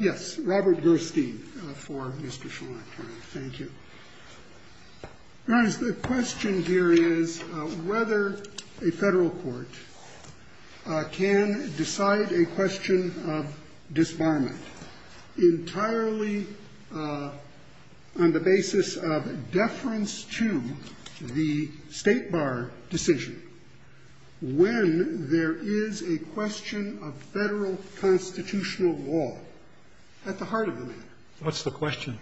Yes, Robert Gerstein for Mr. Shalant. Thank you. The question here is whether a federal court can decide a question of disbarment entirely on the basis of deference to the state bar decision when there is a question of federal constitutional law at the heart of the matter. What's the question?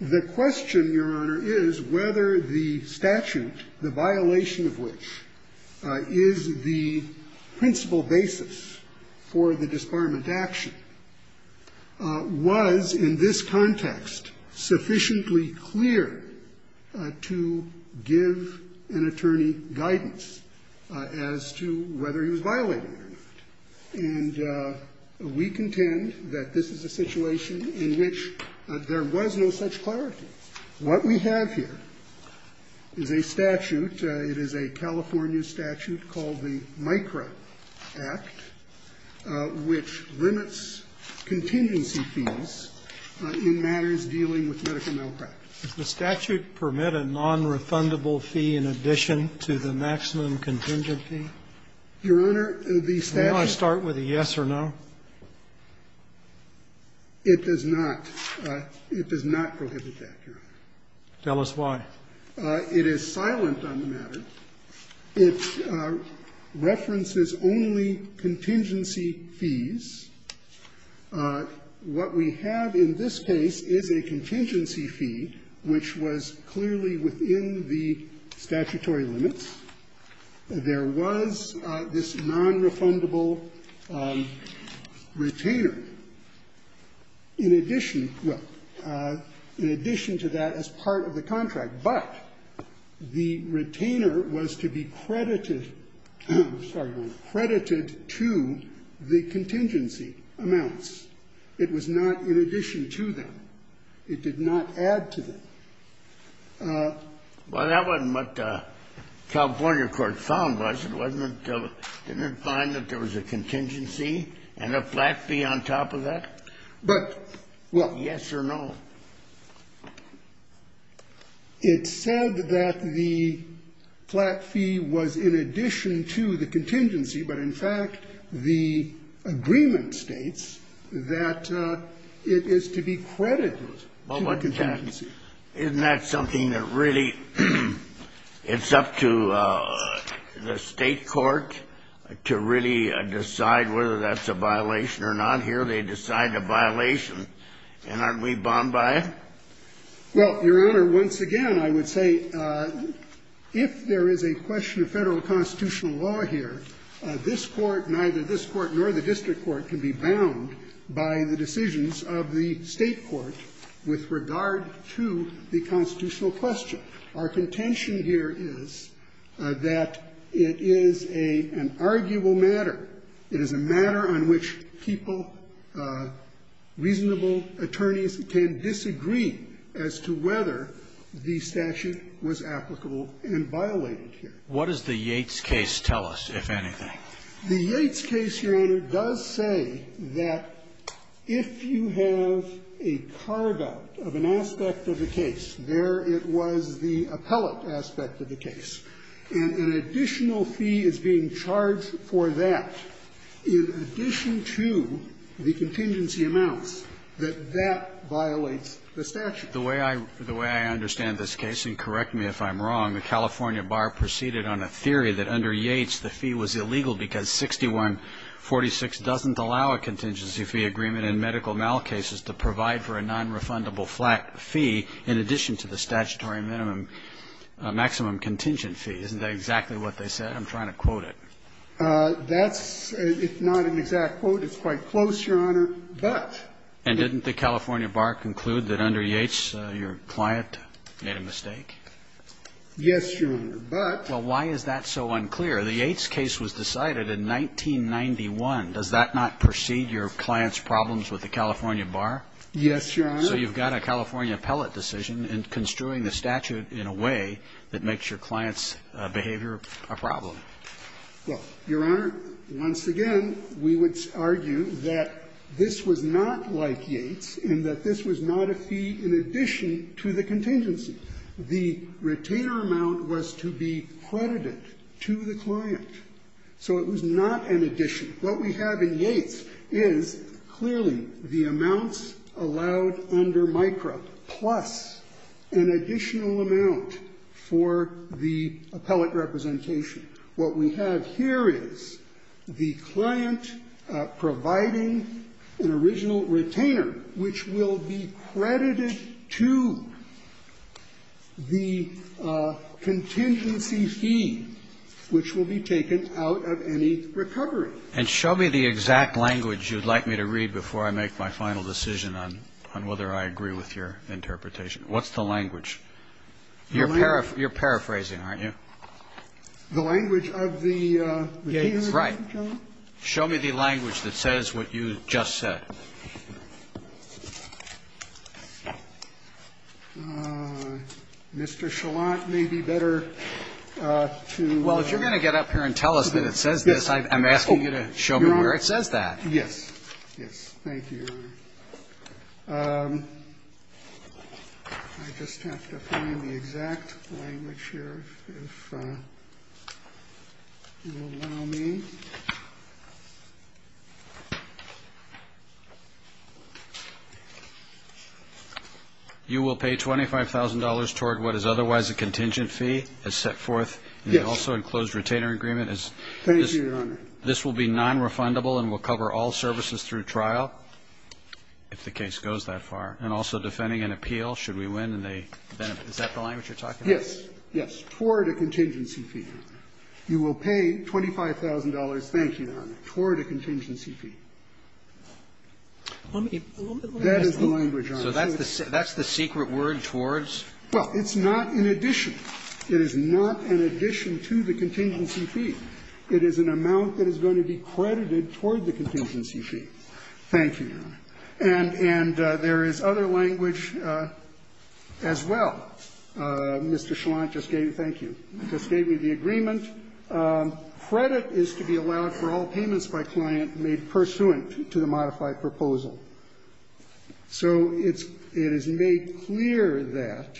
The question, Your Honor, is whether the statute, the violation of which is the principal basis for the disbarment action, was in this context sufficiently clear to give an attorney guidance as to whether he was violating it or not. And we contend that this is a situation in which there was no such clarity. What we have here is a statute. It is a California statute called the MICRA Act, which limits contingency fees in matters dealing with medical malpractice. Does the statute permit a nonrefundable fee in addition to the maximum contingency? Your Honor, the statute You want to start with a yes or no? It does not. It does not prohibit that, Your Honor. Tell us why. It is silent on the matter. It references only contingency fees. What we have in this case is a contingency fee, which was clearly within the statutory limits. There was this nonrefundable retainer in addition to that as part of the contract, but the retainer was to be credited to the contingency amounts. It was not in addition to them. It did not add to them. Well, that wasn't what the California court found was. It wasn't until it didn't find that there was a contingency and a flat fee on top of that. But, well. Yes or no? It said that the flat fee was in addition to the contingency, but, in fact, the agreement states that it is to be credited to the contingency. Isn't that something that really it's up to the state court to really decide whether that's a violation or not? Here they decide the violation, and aren't we bombed by it? Well, Your Honor, once again, I would say if there is a question of federal constitutional law here, this Court, neither this Court nor the district court can be bound by the decisions of the state court with regard to the constitutional question. Our contention here is that it is an arguable matter. It is a matter on which people, reasonable attorneys, can disagree as to whether the statute was applicable and violated here. What does the Yates case tell us, if anything? The Yates case, Your Honor, does say that if you have a carve-out of an aspect of the case, there it was the appellate aspect of the case, and an additional fee is being charged for that in addition to the contingency amounts, that that violates the statute. The way I understand this case, and correct me if I'm wrong, the California Bar proceeded on a theory that under Yates the fee was illegal because 6146 doesn't allow a contingency fee agreement in medical malcases to provide for a nonrefundable fee in addition to the statutory maximum contingent fee. Isn't that exactly what they said? I'm trying to quote it. That's, if not an exact quote, it's quite close, Your Honor. But. And didn't the California Bar conclude that under Yates your client made a mistake? Yes, Your Honor. But. Well, why is that so unclear? The Yates case was decided in 1991. Does that not precede your client's problems with the California Bar? Yes, Your Honor. So you've got a California appellate decision in construing the statute in a way that makes your client's behavior a problem. Well, Your Honor, once again, we would argue that this was not like Yates, and that this was not a fee in addition to the contingency. The retainer amount was to be credited to the client. So it was not an addition. What we have in Yates is clearly the amounts allowed under MICRA plus an additional amount for the appellate representation. What we have here is the client providing an original retainer, which will be credited to the contingency fee, which will be taken out of any recovery. And show me the exact language you'd like me to read before I make my final decision on whether I agree with your interpretation. What's the language? You're paraphrasing, aren't you? The language of the retainer. Right. Show me the language that says what you just said. Mr. Chalant, may be better to ---- Well, if you're going to get up here and tell us that it says this, I'm asking you to show me where it says that. Yes. Thank you, Your Honor. I just have to find the exact language here, if you'll allow me. You will pay $25,000 toward what is otherwise a contingent fee as set forth in the also enclosed retainer agreement. Yes. Thank you, Your Honor. This will be nonrefundable and will cover all services through trial, if the case goes that far, and also defending an appeal should we win and they benefit. Is that the language you're talking about? Yes. Yes. Toward a contingency fee. Thank you, Your Honor. You will pay $25,000, thank you, Your Honor, toward a contingency fee. That is the language, Your Honor. So that's the secret word, towards? Well, it's not an addition. It is not an addition to the contingency fee. It is an amount that is going to be credited toward the contingency fee. Thank you, Your Honor. And there is other language as well. Mr. Schlant just gave me the agreement. Credit is to be allowed for all payments by client made pursuant to the modified proposal. So it is made clear that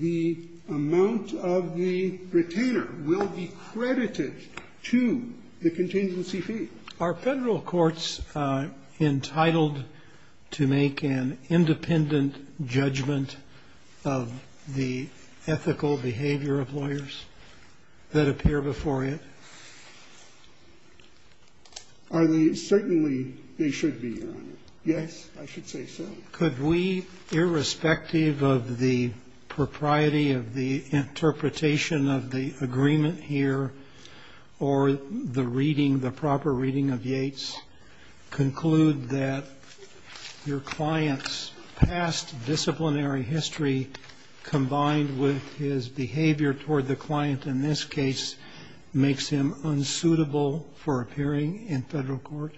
the amount of the retainer will be credited to the contingency fee. Are Federal courts entitled to make an independent judgment of the ethical behavior of lawyers that appear before you? Certainly, they should be, Your Honor. Yes, I should say so. Could we, irrespective of the propriety of the interpretation of the agreement here or the reading, the proper reading of Yates, conclude that your client's past disciplinary history combined with his behavior toward the client in this case makes him unsuitable for appearing in Federal court?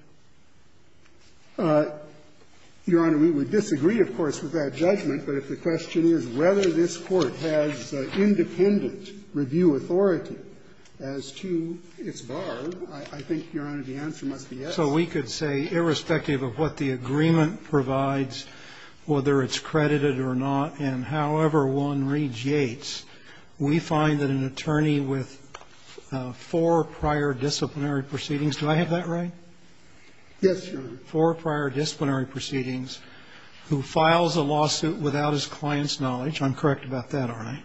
Your Honor, we would disagree, of course, with that judgment. But if the question is whether this Court has independent review authority as to its bar, I think, Your Honor, the answer must be yes. So we could say, irrespective of what the agreement provides, whether it's credited or not, and however one reads Yates, we find that an attorney with four prior disciplinary proceedings. Do I have that right? Yes, Your Honor. And if the court finds that an attorney with four prior disciplinary proceedings who files a lawsuit without his client's knowledge, I'm correct about that, aren't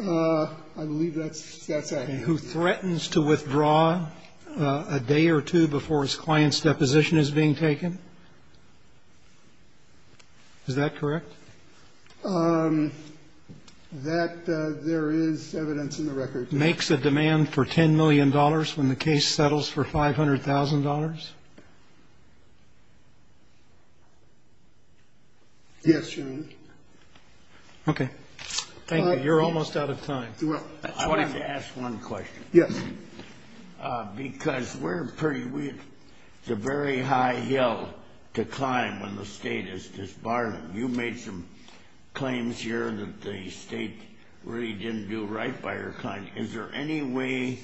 I? I believe that's accurate. And who threatens to withdraw a day or two before his client's deposition is being taken, is that correct? That there is evidence in the record. Makes a demand for $10 million when the case settles for $500,000? Yes, Your Honor. Okay. Thank you. You're almost out of time. I wanted to ask one question. Yes. Because we're pretty weird. It's a very high hill to climb when the State is disbarred. You made some claims here that the State really didn't do right by your client. Is there any way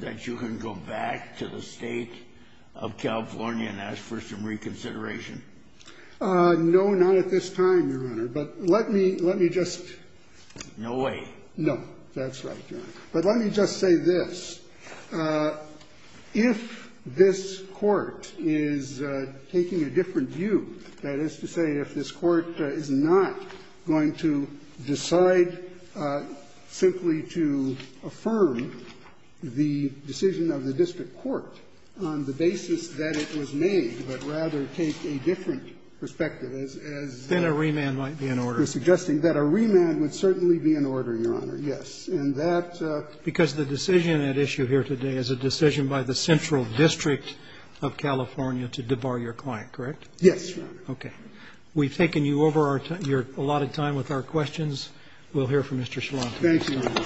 that you can go back to the State of California and ask for some reconsideration? No, not at this time, Your Honor. But let me just ---- No way. No. That's right, Your Honor. But let me just say this. If this Court is taking a different view, that is to say if this Court is not going to decide simply to affirm the decision of the district court on the basis that it was made, but rather take a different perspective as the ---- Then a remand might be in order. We're suggesting that a remand would certainly be in order, Your Honor, yes. And that ---- Because the decision at issue here today is a decision by the central district of California to debar your client, correct? Yes, Your Honor. Okay. We've taken you over your allotted time with our questions. We'll hear from Mr. Shlont. Thank you. Thank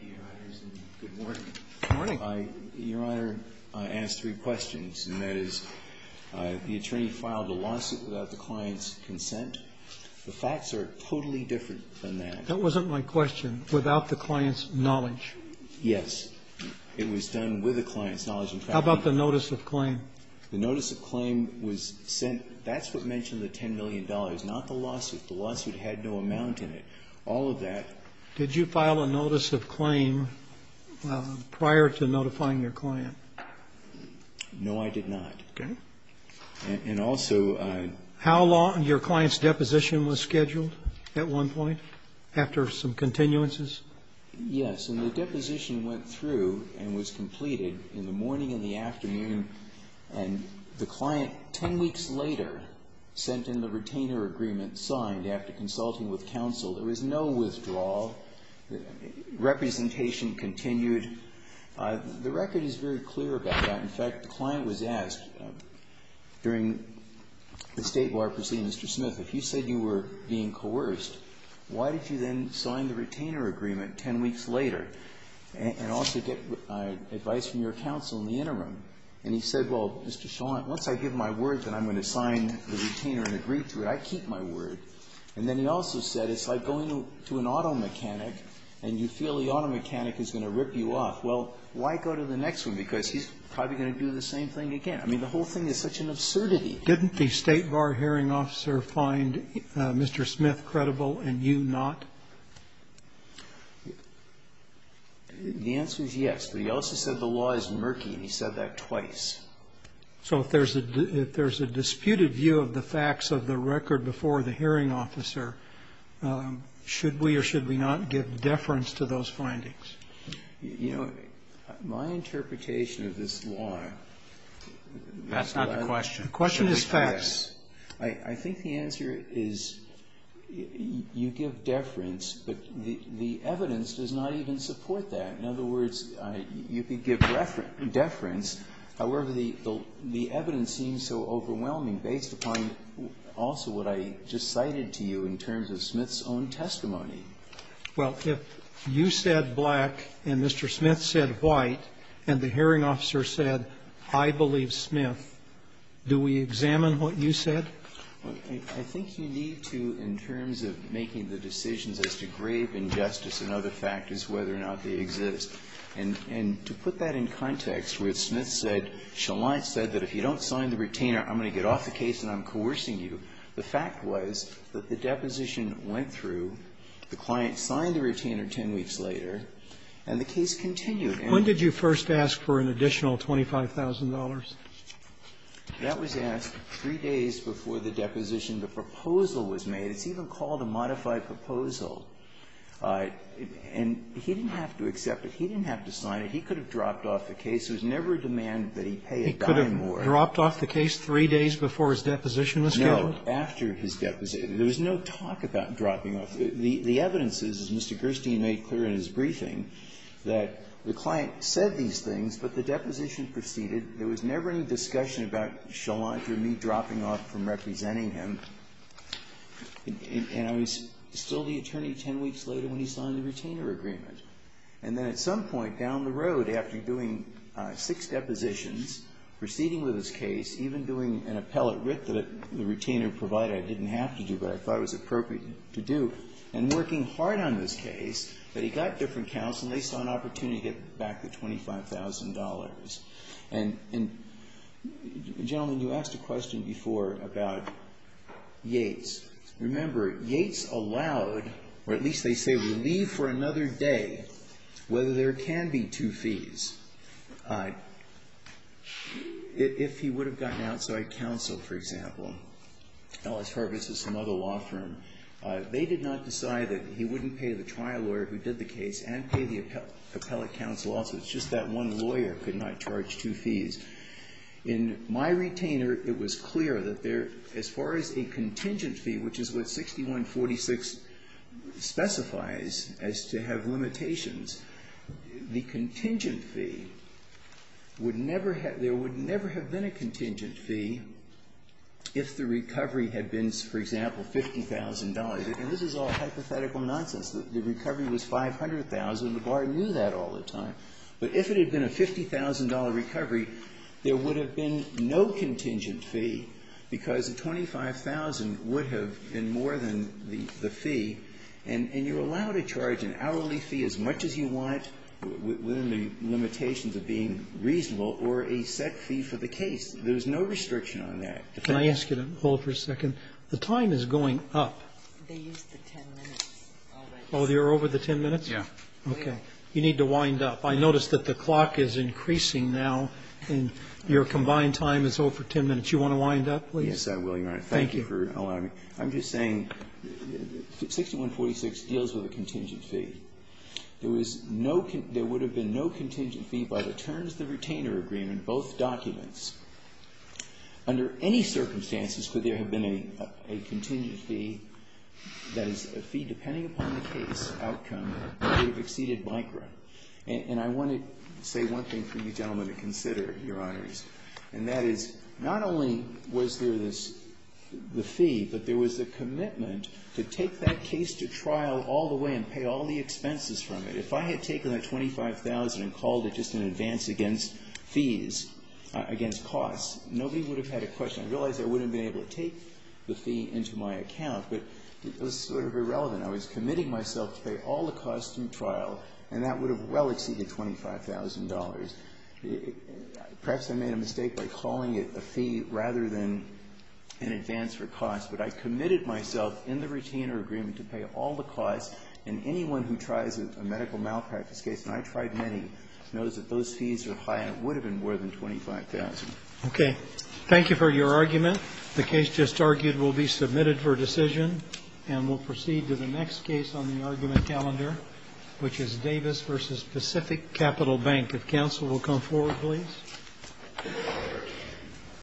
you, Your Honors, and good morning. Good morning. Your Honor, I ask three questions, and that is the attorney filed a lawsuit without the client's consent. The facts are totally different than that. That wasn't my question. Without the client's knowledge. Yes. It was done with the client's knowledge. How about the notice of claim? The notice of claim was sent ---- that's what mentioned the $10 million, not the lawsuit. The lawsuit had no amount in it. All of that ---- Did you file a notice of claim prior to notifying your client? No, I did not. Okay. And also ---- How long your client's deposition was scheduled at one point after some continuances? Yes. And the deposition went through and was completed in the morning and the afternoon, and the client 10 weeks later sent in the retainer agreement signed after consulting with counsel. There was no withdrawal. Representation continued. The record is very clear about that. And, in fact, the client was asked during the State Bar proceeding, Mr. Smith, if you said you were being coerced, why did you then sign the retainer agreement 10 weeks later and also get advice from your counsel in the interim? And he said, well, Mr. Shaw, once I give my word that I'm going to sign the retainer and agree to it, I keep my word. And then he also said it's like going to an auto mechanic and you feel the auto mechanic is going to rip you off. Well, why go to the next one? Because he's probably going to do the same thing again. I mean, the whole thing is such an absurdity. Didn't the State Bar hearing officer find Mr. Smith credible and you not? The answer is yes. But he also said the law is murky, and he said that twice. So if there's a disputed view of the facts of the record before the hearing officer, should we or should we not give deference to those findings? You know, my interpretation of this law. That's not the question. The question is facts. I think the answer is you give deference, but the evidence does not even support that. In other words, you could give deference. However, the evidence seems so overwhelming based upon also what I just cited to you in terms of Smith's own testimony. Well, if you said black and Mr. Smith said white and the hearing officer said, I believe Smith, do we examine what you said? Well, I think you need to in terms of making the decisions as to grave injustice and other factors, whether or not they exist. And to put that in context with Smith said, Sheline said that if you don't sign the retainer, I'm going to get off the case and I'm coercing you. The fact was that the deposition went through, the client signed the retainer 10 weeks later, and the case continued. And when did you first ask for an additional $25,000? That was asked three days before the deposition. The proposal was made. It's even called a modified proposal. And he didn't have to accept it. He didn't have to sign it. He could have dropped off the case. It was never a demand that he pay a dime more. He could have dropped off the case three days before his deposition was scheduled? No, after his deposition. There was no talk about dropping off. The evidence is, as Mr. Gerstein made clear in his briefing, that the client said these things, but the deposition proceeded. There was never any discussion about Sheline or me dropping off from representing him. And I was still the attorney 10 weeks later when he signed the retainer agreement. And then at some point down the road after doing six depositions, proceeding with his case, even doing an appellate writ that the retainer provided, I didn't have to do, but I thought it was appropriate to do, and working hard on this case, that he got different counts, and they saw an opportunity to get back the $25,000. And, gentlemen, you asked a question before about Yates. Remember, Yates allowed, or at least they say will leave for another day, whether there can be two fees. If he would have gotten outside counsel, for example, Ellis Harvest or some other law firm, they did not decide that he wouldn't pay the trial lawyer who did the case and pay the appellate counsel also. It's just that one lawyer could not charge two fees. In my retainer, it was clear that there, as far as a contingent fee, which is what 6146 specifies as to have limitations, the contingent fee, which is what the appellate counsel has to pay, would never have been a contingent fee if the recovery had been, for example, $50,000. And this is all hypothetical nonsense. The recovery was $500,000. The bar knew that all the time. But if it had been a $50,000 recovery, there would have been no contingent fee, because the $25,000 would have been more than the fee, and you're allowed to charge an hourly fee as much as you want within the limitations of being reasonable or a set fee for the case. There's no restriction on that. Can I ask you to hold for a second? The time is going up. They used the 10 minutes. Oh, you're over the 10 minutes? Yeah. Okay. You need to wind up. I notice that the clock is increasing now, and your combined time is over 10 minutes. You want to wind up, please? Yes, I will, Your Honor. Thank you for allowing me. I'm just saying 6146 deals with a contingent fee. There would have been no contingent fee by the terms of the retainer agreement, both documents. Under any circumstances could there have been a contingent fee, that is, a fee depending upon the case outcome, that would have exceeded micro. And I want to say one thing for you gentlemen to consider, Your Honors, and that is, not only was there this, the fee, but there was a commitment to take that case to trial all the way and pay all the expenses from it. If I had taken that $25,000 and called it just an advance against fees, against costs, nobody would have had a question. I realize I wouldn't have been able to take the fee into my account, but it was sort of irrelevant. I was committing myself to pay all the costs in trial, and that would have well exceeded $25,000. Perhaps I made a mistake by calling it a fee rather than an advance for costs, but I committed myself in the retainer agreement to pay all the costs, and anyone who tries a medical malpractice case, and I tried many, knows that those fees are high and it would have been more than $25,000. Okay. Thank you for your argument. The case just argued will be submitted for decision, and we'll proceed to the next case on the argument calendar, which is Davis v. Pacific Capital Bank. If counsel will come forward, please.